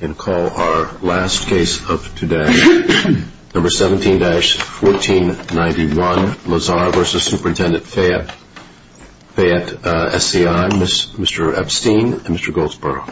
And call our last case of today, No.17-1491, Lazar v. Supt.Fayette SCI, Mr. Epstein and Mr. Goldsboro.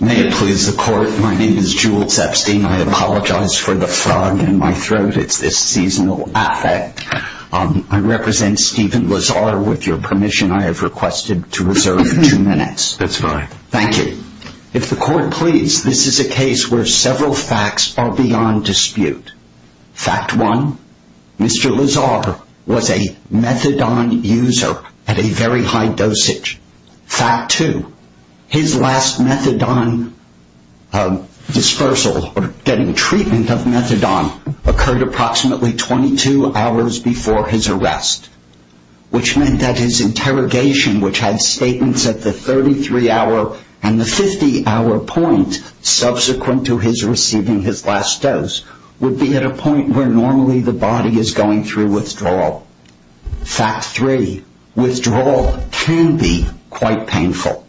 May it please the court, my name is Jules Epstein, I apologize for the frog in my throat, it's this seasonal affect. I represent Stephen Lazar, with your permission I have requested to reserve two minutes. That's fine. Thank you. If the court please, this is a case where several facts are beyond dispute. Fact one, Mr. Lazar was a methadone user at a very high dosage. Fact two, his last methadone dispersal or getting treatment of methadone occurred approximately 22 hours before his arrest, which meant that his interrogation, which had statements at the 33 hour and the 50 hour point subsequent to his receiving his last dose, would be at a point where normally the body is going through withdrawal. Fact three, withdrawal can be quite painful.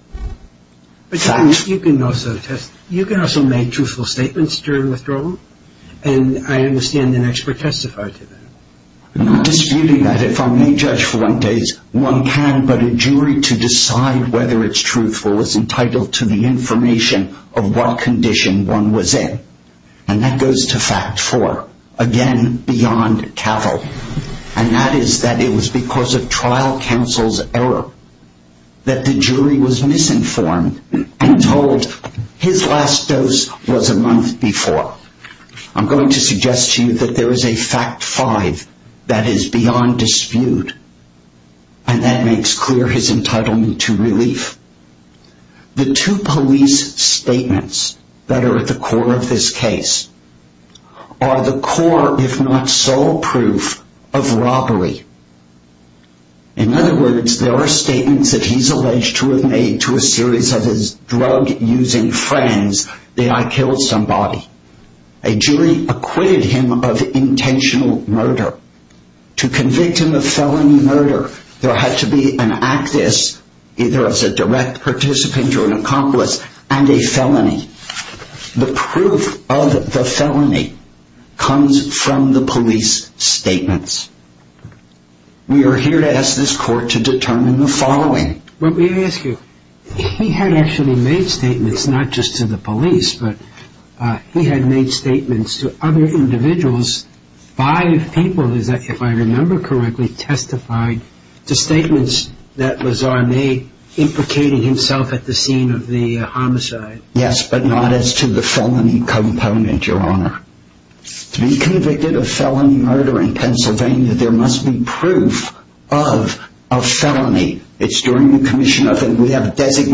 You can also make truthful statements during withdrawal and I understand an expert testifier to that. I'm not disputing that, if I may judge for one case, one can but a jury to decide whether it's truthful is entitled to the information of what condition one was in. And that goes to fact four, again beyond capital. And that is that it was because of trial counsel's error that the jury was misinformed and told his last dose was a month before. I'm going to suggest to you that there is a fact five that is beyond dispute and that makes clear his entitlement to relief. The two police statements that are at the core of this case are the core, if not sole proof of robbery. In other words, there are statements that he's alleged to have made to a series of his drug-using friends that I killed somebody. A jury acquitted him of intentional murder. To convict him of felony murder, there had to be an actus, either as a direct participant or an accomplice, and a felony. The proof of the felony comes from the police statements. We are here to ask this court to determine the following. Let me ask you, he had actually made statements, not just to the police, but he had made statements to other individuals. Five people, if I remember correctly, testified to statements that Lazare made implicating himself at the scene of the homicide. Yes, but not as to the felony component, your honor. To be convicted of felony murder in Pennsylvania, there must be proof of a felony. It's during the commission of, and we have absent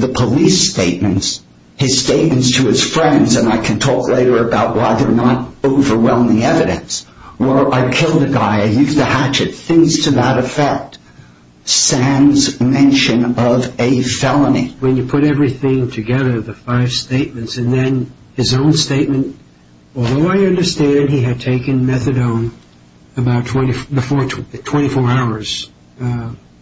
the police statements, his statements to his friends, and I can talk later about why they're not overwhelming evidence, or I killed a guy, I used a hatchet, things to that effect. Sam's mention of a felony. When you put everything together, the five statements, and then his own statement, although I understand he had taken methadone about 24 hours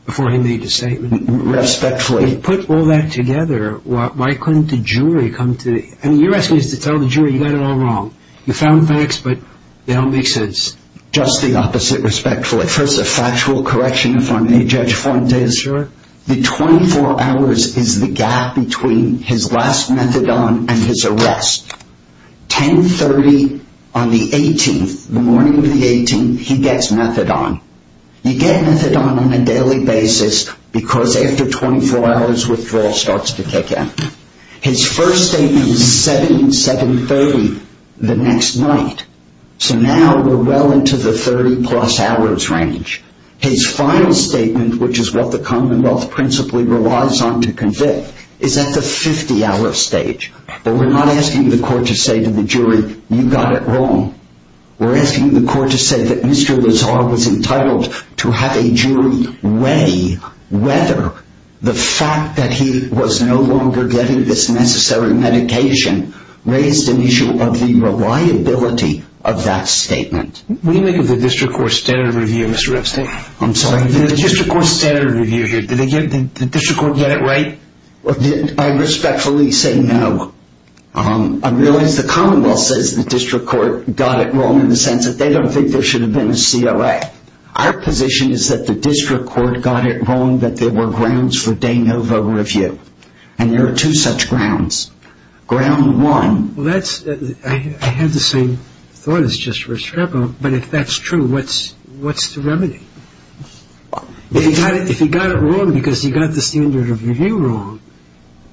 before he made his statement. Respectfully. If you put all that together, why couldn't the jury come to, I mean, you're asking us to tell the jury you got it all wrong. You found facts, but they don't make sense. Just the opposite, respectfully. First, a factual correction, if I may, Judge Fuentes. Sure. The 24 hours is the gap between his last methadone and his arrest. 10.30 on the 18th, the morning of the 18th, he gets methadone. You get methadone on a daily basis, because after 24 hours, withdrawal starts to kick in. His first statement was 7.30 the next night, so now we're well into the 30 plus hours range. His final statement, which is what the Commonwealth principally relies on to convict, is at the 50 hour stage, but we're not asking the court to say to the court to say that Mr. Lazar was entitled to have a jury weigh whether the fact that he was no longer getting this necessary medication raised an issue of the reliability of that statement. What do you make of the District Court standard review, Mr. Epstein? I'm sorry? The District Court standard review here, did the District Court get it right? I respectfully say no. I realize the Commonwealth says the District Court got it wrong in the first place. I don't think there should have been a COA. Our position is that the District Court got it wrong that there were grounds for de novo review, and there are two such grounds. Ground one... Well, I had the same thought as Judge Restrepo, but if that's true, what's the remedy? If he got it wrong because he got the standard of review wrong,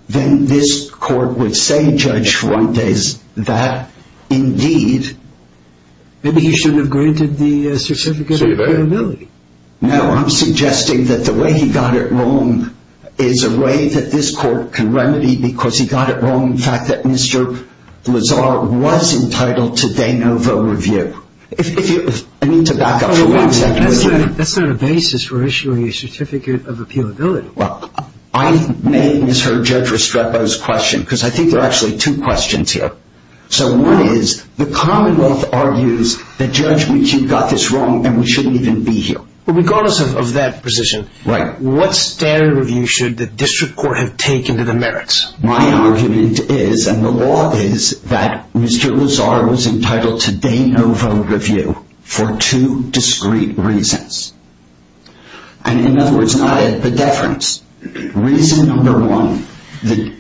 then this court would say, to Judge Fuentes, that indeed... Maybe he shouldn't have granted the certificate of appealability. No, I'm suggesting that the way he got it wrong is a way that this court can remedy because he got it wrong in the fact that Mr. Lazar was entitled to de novo review. If you... I need to back up for one second. That's not a basis for issuing a certificate of appealability. I may have misheard Judge Restrepo's question because I think there are actually two questions here. One is, the Commonwealth argues that Judge McHugh got this wrong and we shouldn't even be here. Regardless of that position, what standard of review should the District Court have taken to the merits? My argument is, and the law is, that Mr. Lazar was entitled to de novo review for two discreet reasons. In other words, not a pedefrance. Reason number one, the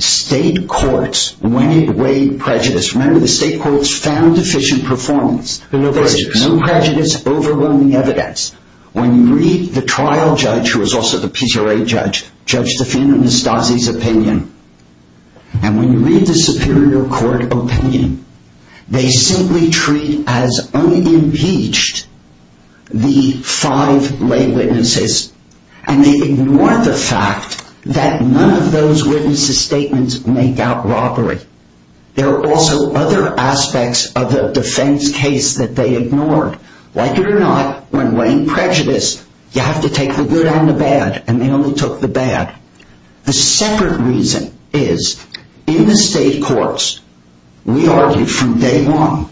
state courts weighed prejudice. Remember, the state courts found deficient performance. No prejudice. No prejudice, overwhelming evidence. When you read the trial judge, who was also the PCRA judge, Judge Tafin and Ms. Stasi's And when you read the Superior Court opinion, they simply treat as only impeached the five lay witnesses, and they ignore the fact that none of those witnesses' statements make out robbery. There are also other aspects of the defense case that they ignored. Like it or not, when weighing prejudice, you have to take the good and the bad, and they only took the bad. The second reason is, in the state courts, we argued from day one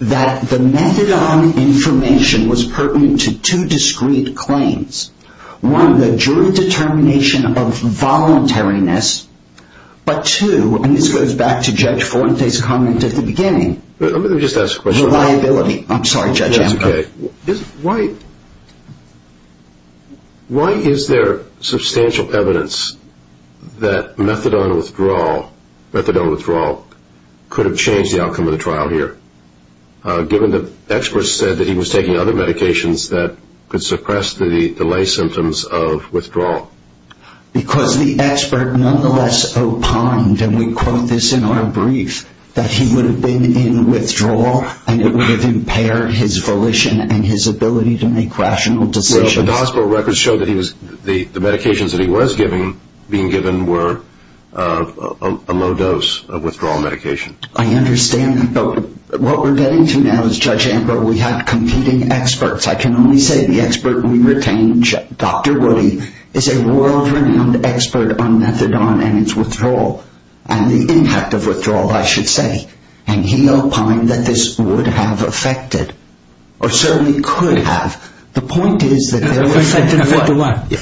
that the methadone information was pertinent to two discreet claims. One, the jury determination of voluntariness. But two, and this goes back to Judge Fuentes' comment at the beginning, reliability. Why is there substantial evidence that methadone withdrawal could have changed the outcome of the trial here, given that experts said that he was taking other medications that could suppress the delay symptoms of withdrawal? Because the expert nonetheless opined, and we quote this in our brief, that he would have been in withdrawal, and it would have impaired his volition and his ability to make rational decisions. But the hospital records show that the medications that he was being given were a low-dose withdrawal medication. I understand that. But what we're getting to now is, Judge Amber, we have competing experts. I can only say the expert we retained, Dr. Woody, is a world-renowned expert on methadone and its withdrawal, and the impact of withdrawal, I should say. And he opined that this would have affected, or certainly could have. The point is that there was... Affected what?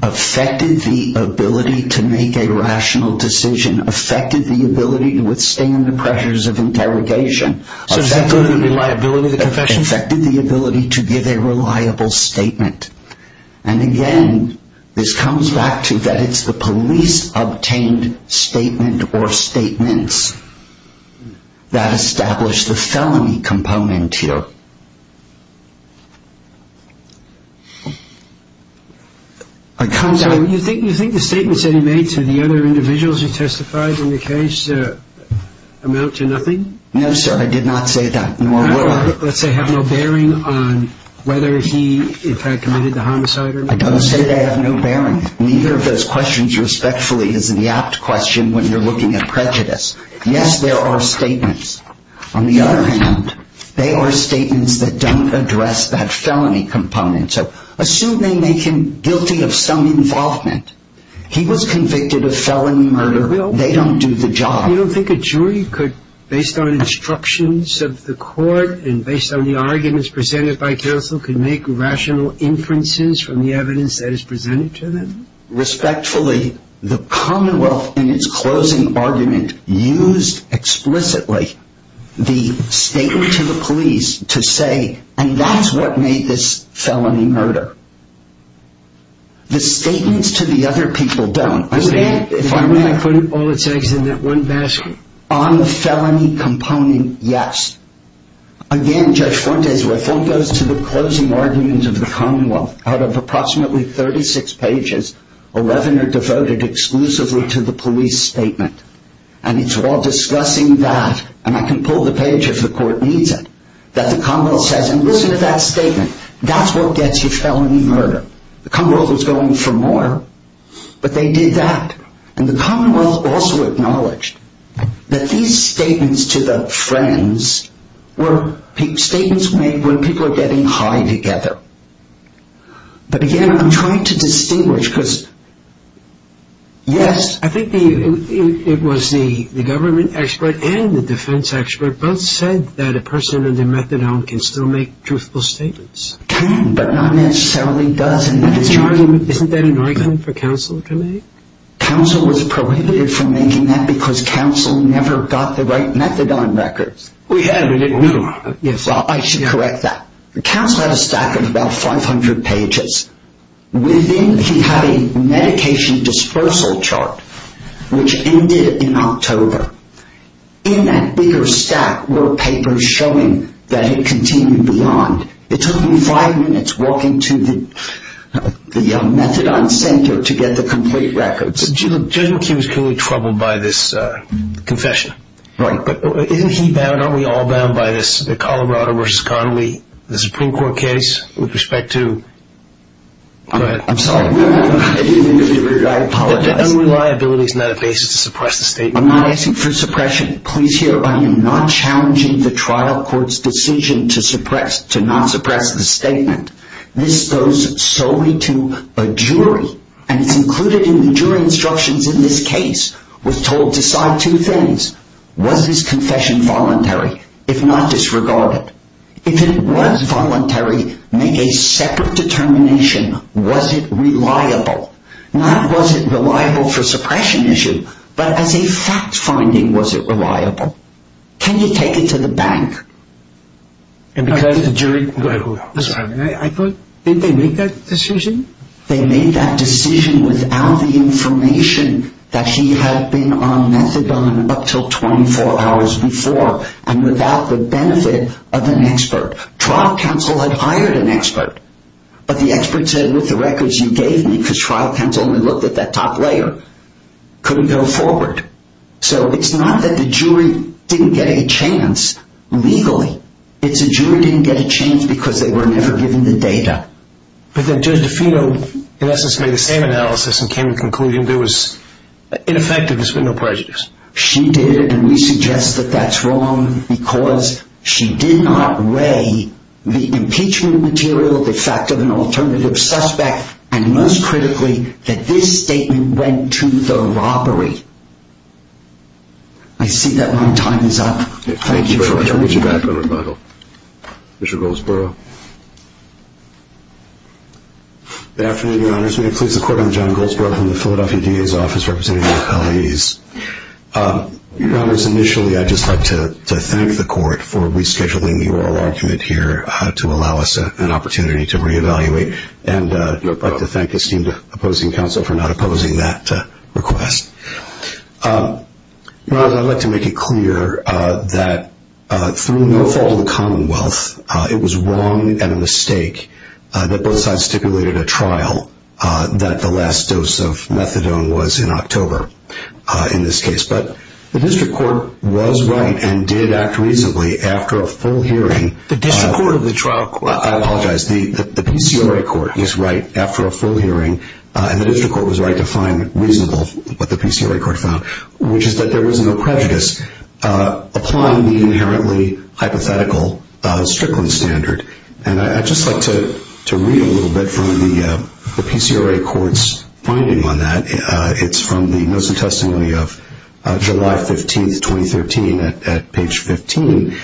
Affected the ability to make a rational decision. Affected the ability to withstand the pressures of interrogation. So does that go to the reliability of the confession? Affected the ability to give a reliable statement. And again, this comes back to that it's the police-obtained statement or statements that establish the felony component here. You think the statements that he made to the other individuals who testified in the case amount to nothing? No, sir, I did not say that. Let's say have no bearing on whether he in fact committed the homicide or not. I don't say they have no bearing. Neither of those questions respectfully is an apt question when you're looking at prejudice. Yes, there are statements. On the other hand, they are statements that don't address that felony component. So assume they make him guilty of some involvement. He was convicted of felony murder. They don't do the job. You don't think a jury could, based on instructions of the court and based on the arguments presented by counsel, could make rational inferences from the evidence that is presented to them? Respectfully, the Commonwealth in its closing argument used explicitly the statement to the police to say, and that's what made this felony murder. The statements to the other people don't. If I may, I put all the tags in that one basket. On the felony component, yes. Again, Judge Fuentes, if one goes to the closing argument of the Commonwealth, out of approximately 36 pages, 11 are devoted exclusively to the police statement. And it's while discussing that, and I can pull the page if the court needs it, that the Commonwealth says, and listen to that statement, that's what gets you felony murder. The Commonwealth was going for more, but they did that. And the Commonwealth also acknowledged that these statements to the friends were statements made when people are getting high together. But again, I'm trying to distinguish because, yes. I think it was the government expert and the defense expert both said that a person of their methadone can still make truthful statements. Can, but not necessarily does. Isn't that an argument for counsel to make? Counsel was prohibited from making that because counsel never got the right methadone records. We had, but didn't know. I should correct that. Counsel had a stack of about 500 pages. Within, he had a medication dispersal chart, which ended in October. In that bigger stack were papers showing that it continued beyond. It took him five minutes walking to the methadone center to get the complete records. Judge McKee was clearly troubled by this confession. Right. Isn't he bound, aren't we all bound by this, the Colorado versus Connolly, the Supreme Court case with respect to, go ahead. I'm sorry. I apologize. The unreliability is not a basis to suppress the statement. I'm not asking for suppression. Please hear, I am not challenging the trial court's decision to suppress, to not suppress the statement. This goes solely to a jury, and it's included in the jury instructions in this case. We're told to decide two things. Was this confession voluntary, if not disregarded? If it was voluntary, make a separate determination, was it reliable? Not was it reliable for suppression issue, but as a fact-finding, was it reliable? Can you take it to the bank? And because the jury, go ahead. I thought, did they make that decision? They made that decision without the information that he had been on methadone up until 24 hours before, and without the benefit of an expert. Trial counsel had hired an expert, but the expert said, with the records you gave me, because trial counsel only looked at that top layer, couldn't go forward. So it's not that the jury didn't get a chance legally. It's the jury didn't get a chance because they were never given the data. But then Judge DeFito, in essence, made the same analysis and came to the conclusion there was, ineffective, there's been no prejudice. She did, and we suggest that that's wrong because she did not weigh the impeachment material, the fact of an alternative suspect, and most critically, that this statement went to the robbery. I see that my time is up. Thank you very much. We'll be back with a rebuttal. Mr. Goldsboro. Good afternoon, Your Honors. Your Honors, may it please the Court, I'm John Goldsboro from the Philadelphia DA's Office, representing the appellees. Your Honors, initially I'd just like to thank the Court for rescheduling the oral argument here to allow us an opportunity to reevaluate, and I'd like to thank esteemed opposing counsel for not opposing that request. Your Honors, I'd like to make it clear that through no fault of the Commonwealth, it was wrong and a mistake that both sides stipulated a trial, that the last dose of methadone was in October, in this case. But the district court was right and did act reasonably after a full hearing. The district court of the trial court? I apologize. The PCRA court is right after a full hearing, and the district court was right to find reasonable what the PCRA court found, which is that there was no prejudice applying the inherently hypothetical Strickland standard. And I'd just like to read a little bit from the PCRA court's finding on that. It's from the notice of testimony of July 15, 2013, at page 15,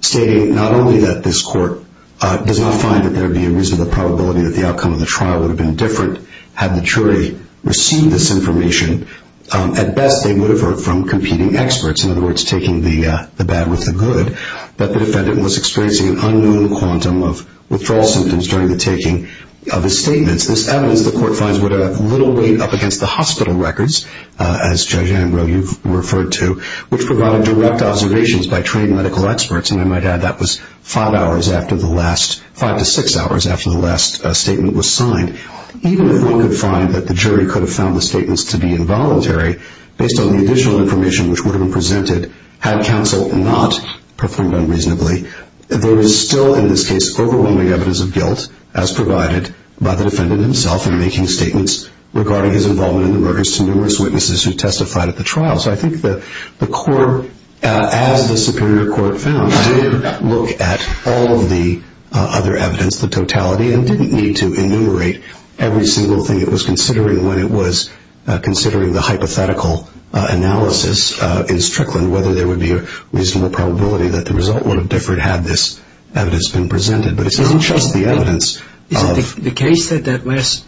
stating not only that this court does not find that there would be a reasonable probability that the outcome of the trial would have been different had the jury received this information. At best, they would have heard from competing experts, in other words, taking the bad with the good, that the defendant was experiencing an unknown quantum of withdrawal symptoms during the taking of his statements. This evidence, the court finds, would have little weight up against the hospital records, as Judge Angro, you've referred to, which provided direct observations by trained medical experts. And I might add that was five to six hours after the last statement was signed. Even if one could find that the jury could have found the statements to be involuntary, based on the additional information which would have been presented had counsel not performed unreasonably, there is still, in this case, overwhelming evidence of guilt as provided by the defendant himself in making statements regarding his involvement in the murders to numerous witnesses who testified at the trial. So I think the court, as the Superior Court found, did look at all of the other evidence, the totality, and didn't need to enumerate every single thing it was considering when it was considering the hypothetical analysis in Strickland whether there would be a reasonable probability that the result would have differed had this evidence been presented. But it's not just the evidence. Is it the case that that last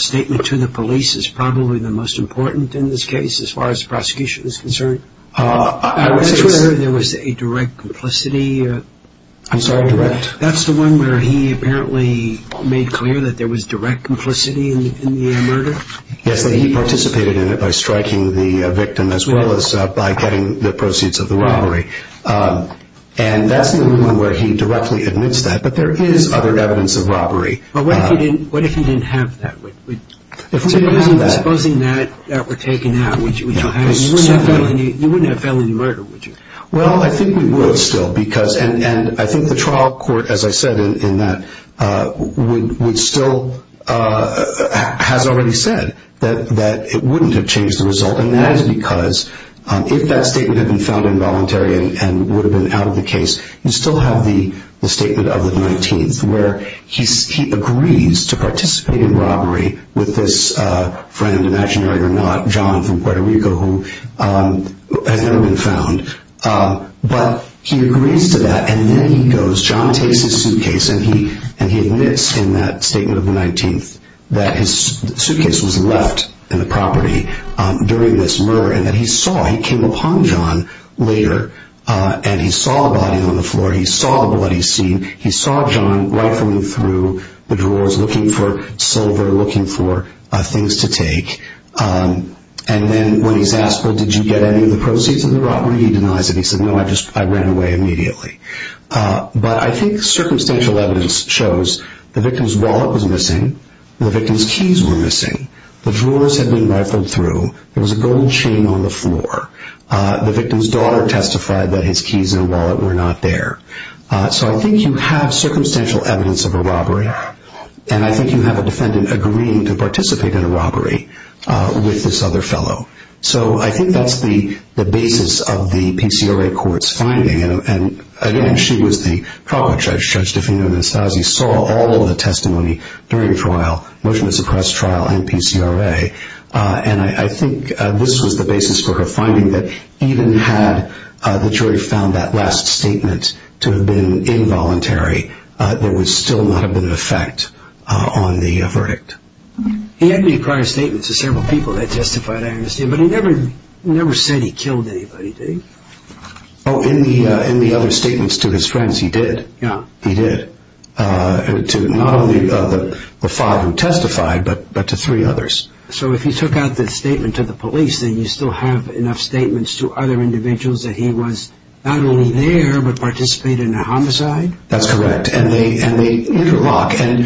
statement to the police is probably the most important in this case, as far as the prosecution is concerned? I would say it's... That's where there was a direct complicity. I'm sorry, direct? That's the one where he apparently made clear that there was direct complicity in the murder? Yes, that he participated in it by striking the victim as well as by getting the proceeds of the robbery. And that's the argument where he directly admits that. But there is other evidence of robbery. But what if he didn't have that? If he didn't have that... Supposing that were taken out, would you have it? You wouldn't have felony murder, would you? Well, I think we would still because... And I think the trial court, as I said in that, would still... has already said that it wouldn't have changed the result. And that is because if that statement had been found involuntary and would have been out of the case, you'd still have the statement of the 19th where he agrees to participate in robbery with this friend, imaginary or not, John from Puerto Rico, who has never been found. But he agrees to that and then he goes... John takes his suitcase and he admits in that statement of the 19th that his suitcase was left in the property during this murder and that he saw. He came upon John later and he saw a body on the floor. He saw the blood he'd seen. He saw John rifling through the drawers looking for silver, looking for things to take. And then when he's asked, well, did you get any of the proceeds of the robbery? He denies it. He said, no, I just ran away immediately. But I think circumstantial evidence shows the victim's wallet was missing. The victim's keys were missing. The drawers had been rifled through. There was a gold chain on the floor. The victim's daughter testified that his keys and wallet were not there. So I think you have circumstantial evidence of a robbery and I think you have a defendant agreeing to participate in a robbery with this other fellow. So I think that's the basis of the PCRA court's finding. And, again, she was the trial judge. She saw all of the testimony during trial, motion to suppress trial, and PCRA. And I think this was the basis for her finding, that even had the jury found that last statement to have been involuntary, there would still not have been an effect on the verdict. He had made prior statements to several people that testified, I understand, but he never said he killed anybody, did he? Oh, in the other statements to his friends, he did. He did. Not only to the five who testified, but to three others. So if he took out the statement to the police, then you still have enough statements to other individuals that he was not only there, but participated in a homicide? That's correct. And they interlock. And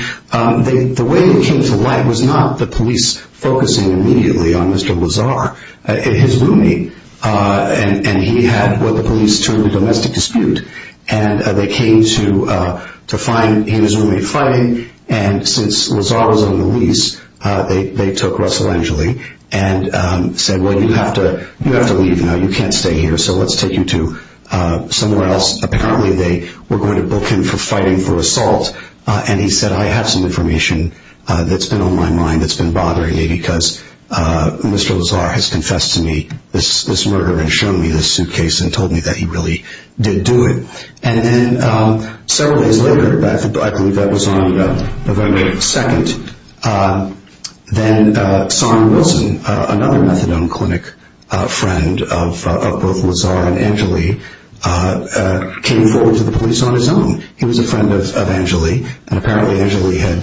the way it came to light was not the police focusing immediately on Mr. Lazar, his roomie, and he had what the police termed a domestic dispute. And they came to find his roommate fighting, and since Lazar was on the lease, they took Russell Angeli and said, well, you have to leave now, you can't stay here, so let's take you to somewhere else. Apparently they were going to book him for fighting for assault. And he said, I have some information that's been on my mind that's been bothering me because Mr. Lazar has confessed to me this murder and shown me this suitcase and told me that he really did do it. And then several days later, I believe that was on November 2nd, then Saron Wilson, another methadone clinic friend of both Lazar and Angeli, came forward to the police on his own. He was a friend of Angeli, and apparently Angeli had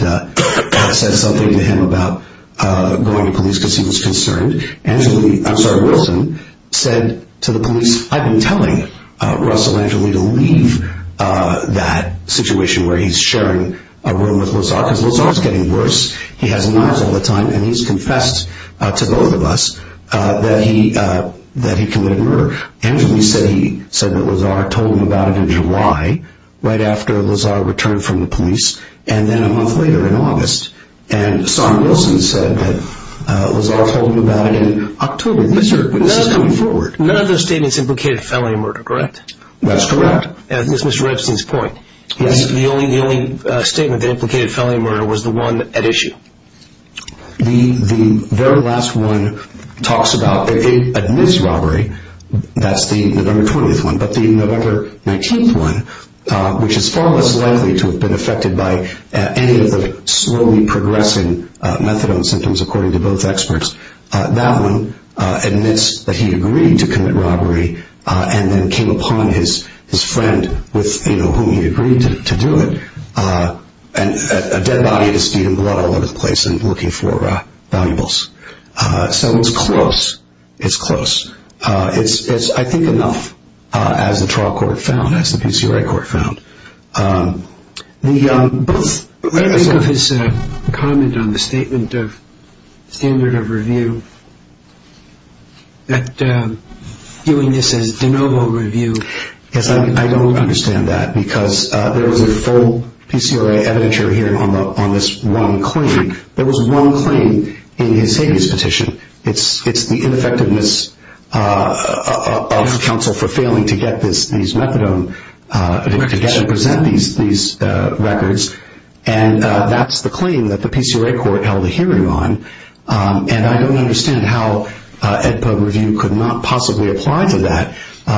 said something to him about going to police because he was concerned. Saron Wilson said to the police, I've been telling Russell Angeli to leave that situation where he's sharing a room with Lazar because Lazar's getting worse, he has knives all the time, and he's confessed to both of us that he committed murder. Angeli said that Lazar told him about it in July, right after Lazar returned from the police, and then a month later in August. And Saron Wilson said that Lazar told him about it in October. None of those statements implicated felony murder, correct? That's correct. That's Mr. Rebsen's point. The only statement that implicated felony murder was the one at issue. The very last one talks about, it admits robbery, that's the November 20th one, but the November 19th one, which is far less likely to have been affected by any of the slowly progressing methadone symptoms, according to both experts. That one admits that he agreed to commit robbery, and then came upon his friend with whom he agreed to do it, a dead body of his feet and blood all over the place and looking for valuables. So it's close. It's close. It's, I think, enough, as the trial court found, as the PCRA court found. What do you think of his comment on the statement of standard of review, that viewing this as de novo review? Yes, I don't understand that, because there was a full PCRA evidentiary hearing on this one claim. There was one claim in his habeas petition. It's the ineffectiveness of counsel for failing to get these methadone, to present these records, and that's the claim that the PCRA court held a hearing on, and I don't understand how EDPA review could not possibly apply to that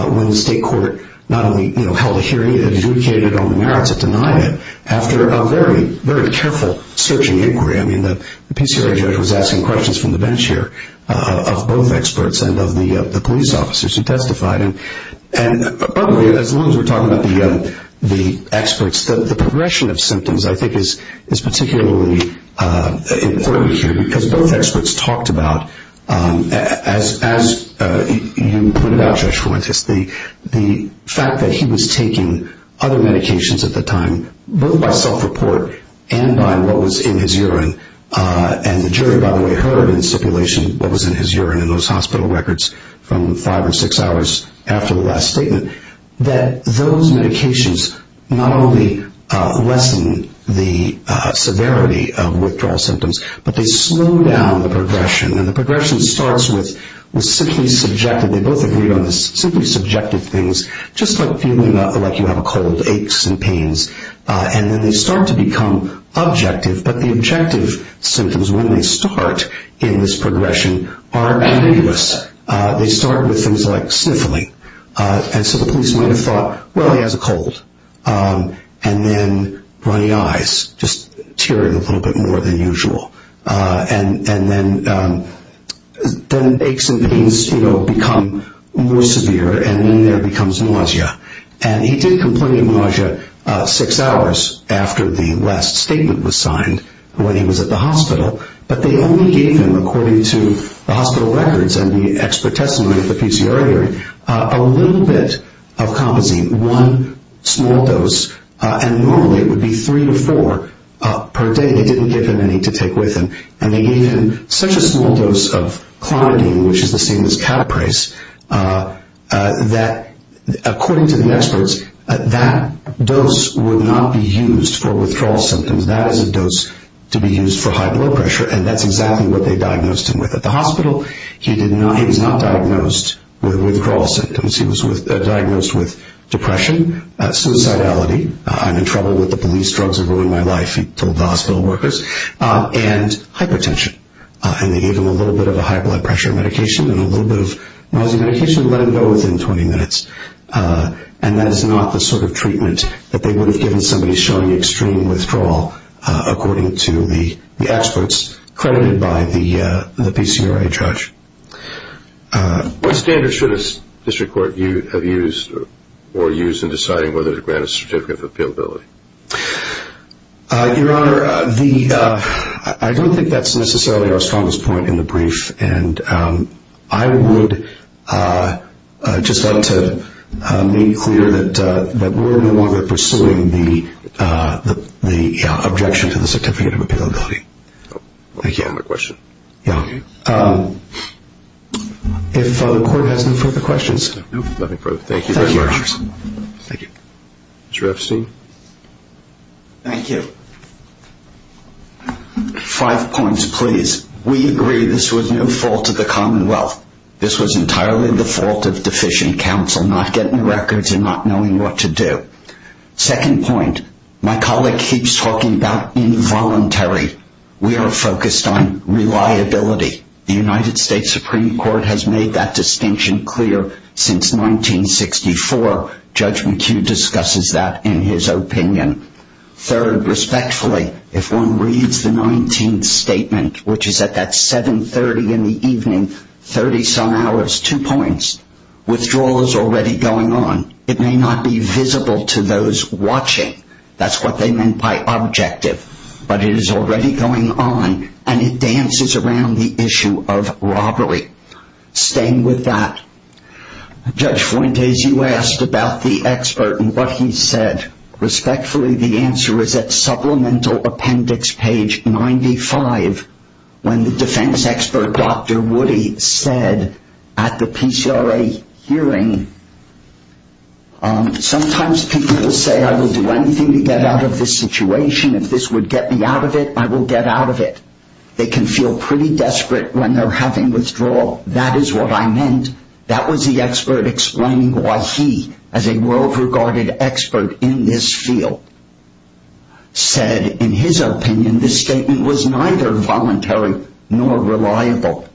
when the state court not only held a hearing, it adjudicated on the merits of denying it after a very, very careful search and inquiry. I mean, the PCRA judge was asking questions from the bench here of both experts and of the police officers who testified, and probably, as long as we're talking about the experts, the progression of symptoms, I think, is particularly important here, because both experts talked about, as you pointed out, Judge Fuentes, the fact that he was taking other medications at the time, both by self-report and by what was in his urine, and the jury, by the way, heard in stipulation what was in his urine in those hospital records from five or six hours after the last statement, that those medications not only lessen the severity of withdrawal symptoms, but they slow down the progression, and the progression starts with simply subjective, they both agreed on this, simply subjective things, just like feeling like you have a cold, aches and pains, and then they start to become objective, but the objective symptoms when they start in this progression are ambiguous. They start with things like sniffling, and so the police might have thought, well, he has a cold, and then runny eyes, just tearing a little bit more than usual, and then aches and pains become more severe, and then there becomes nausea, and he did complain of nausea six hours after the last statement was signed, when he was at the hospital, but they only gave him, according to the hospital records and the expert testimony of the PCRI jury, a little bit of Compazine, one small dose, and normally it would be three or four per day. They didn't give him any to take with him, and they gave him such a small dose of Clonidine, which is the same as Caprase, that, according to the experts, that dose would not be used for withdrawal symptoms. That is a dose to be used for high blood pressure, and that's exactly what they diagnosed him with at the hospital. He was not diagnosed with withdrawal symptoms. He was diagnosed with depression, suicidality, I'm in trouble with the police, drugs are ruining my life, he told the hospital workers, and hypertension, and they gave him a little bit of a high blood pressure medication and a little bit of nausea medication and let him go within 20 minutes, and that is not the sort of treatment that they would have given somebody showing extreme withdrawal, according to the experts credited by the PCRI judge. What standards should a district court have used or used in deciding whether to grant a certificate of appealability? Your Honor, I don't think that's necessarily our strongest point in the brief, and I would just like to make clear that we're no longer pursuing the objection to the certificate of appealability. Thank you. One more question. Yeah. If the court has no further questions. No, nothing further. Thank you. Thank you, Your Honor. Thank you. Mr. Epstein. Thank you. Five points, please. We agree this was no fault of the Commonwealth. This was entirely the fault of deficient counsel, not getting records and not knowing what to do. Second point, my colleague keeps talking about involuntary. We are focused on reliability. The United States Supreme Court has made that distinction clear since 1964. Judge McHugh discusses that in his opinion. Third, respectfully, if one reads the 19th statement, which is at that 730 in the evening, 30-some hours, two points, withdrawal is already going on. It may not be visible to those watching. That's what they meant by objective. But it is already going on, and it dances around the issue of robbery. Staying with that, Judge Fuentes, as you asked about the expert and what he said, respectfully, the answer is at supplemental appendix page 95, when the defense expert, Dr. Woody, said at the PCRA hearing, sometimes people will say I will do anything to get out of this situation. If this would get me out of it, I will get out of it. They can feel pretty desperate when they're having withdrawal. That is what I meant. That was the expert explaining why he, as a well-regarded expert in this field, said in his opinion this statement was neither voluntary nor reliable.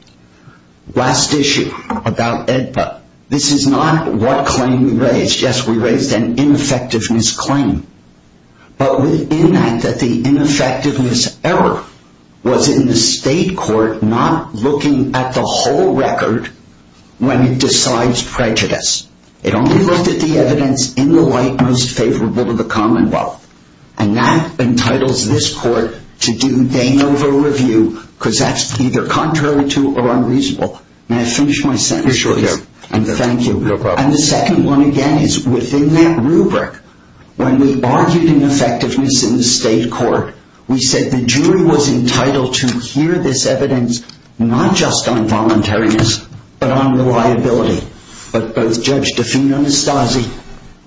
Last issue about AEDPA. This is not what claim we raised. Yes, we raised an ineffectiveness claim. But in that, the ineffectiveness error was in the state court not looking at the whole record when it decides prejudice. It only looked at the evidence in the light most favorable to the commonwealth. And that entitles this court to do dang over review because that's either contrary to or unreasonable. May I finish my sentence? You're sure you're okay. Thank you. You're welcome. And the second one, again, is within that rubric, when we argued ineffectiveness in the state court, we said the jury was entitled to hear this evidence, not just on voluntariness, but on reliability. But both Judge DeFino-Nastassi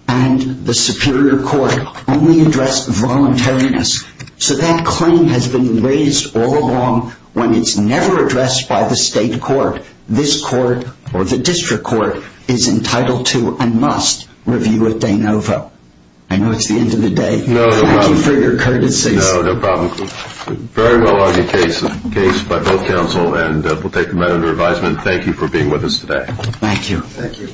and the Superior Court only addressed voluntariness. So that claim has been raised all along when it's never addressed by the state court. This court, or the district court, is entitled to and must review it de novo. I know it's the end of the day. Thank you for your courtesy. No problem. Very well-argued case by both counsel. And we'll take a minute of your advisement. Thank you for being with us today. Thank you. Thank you.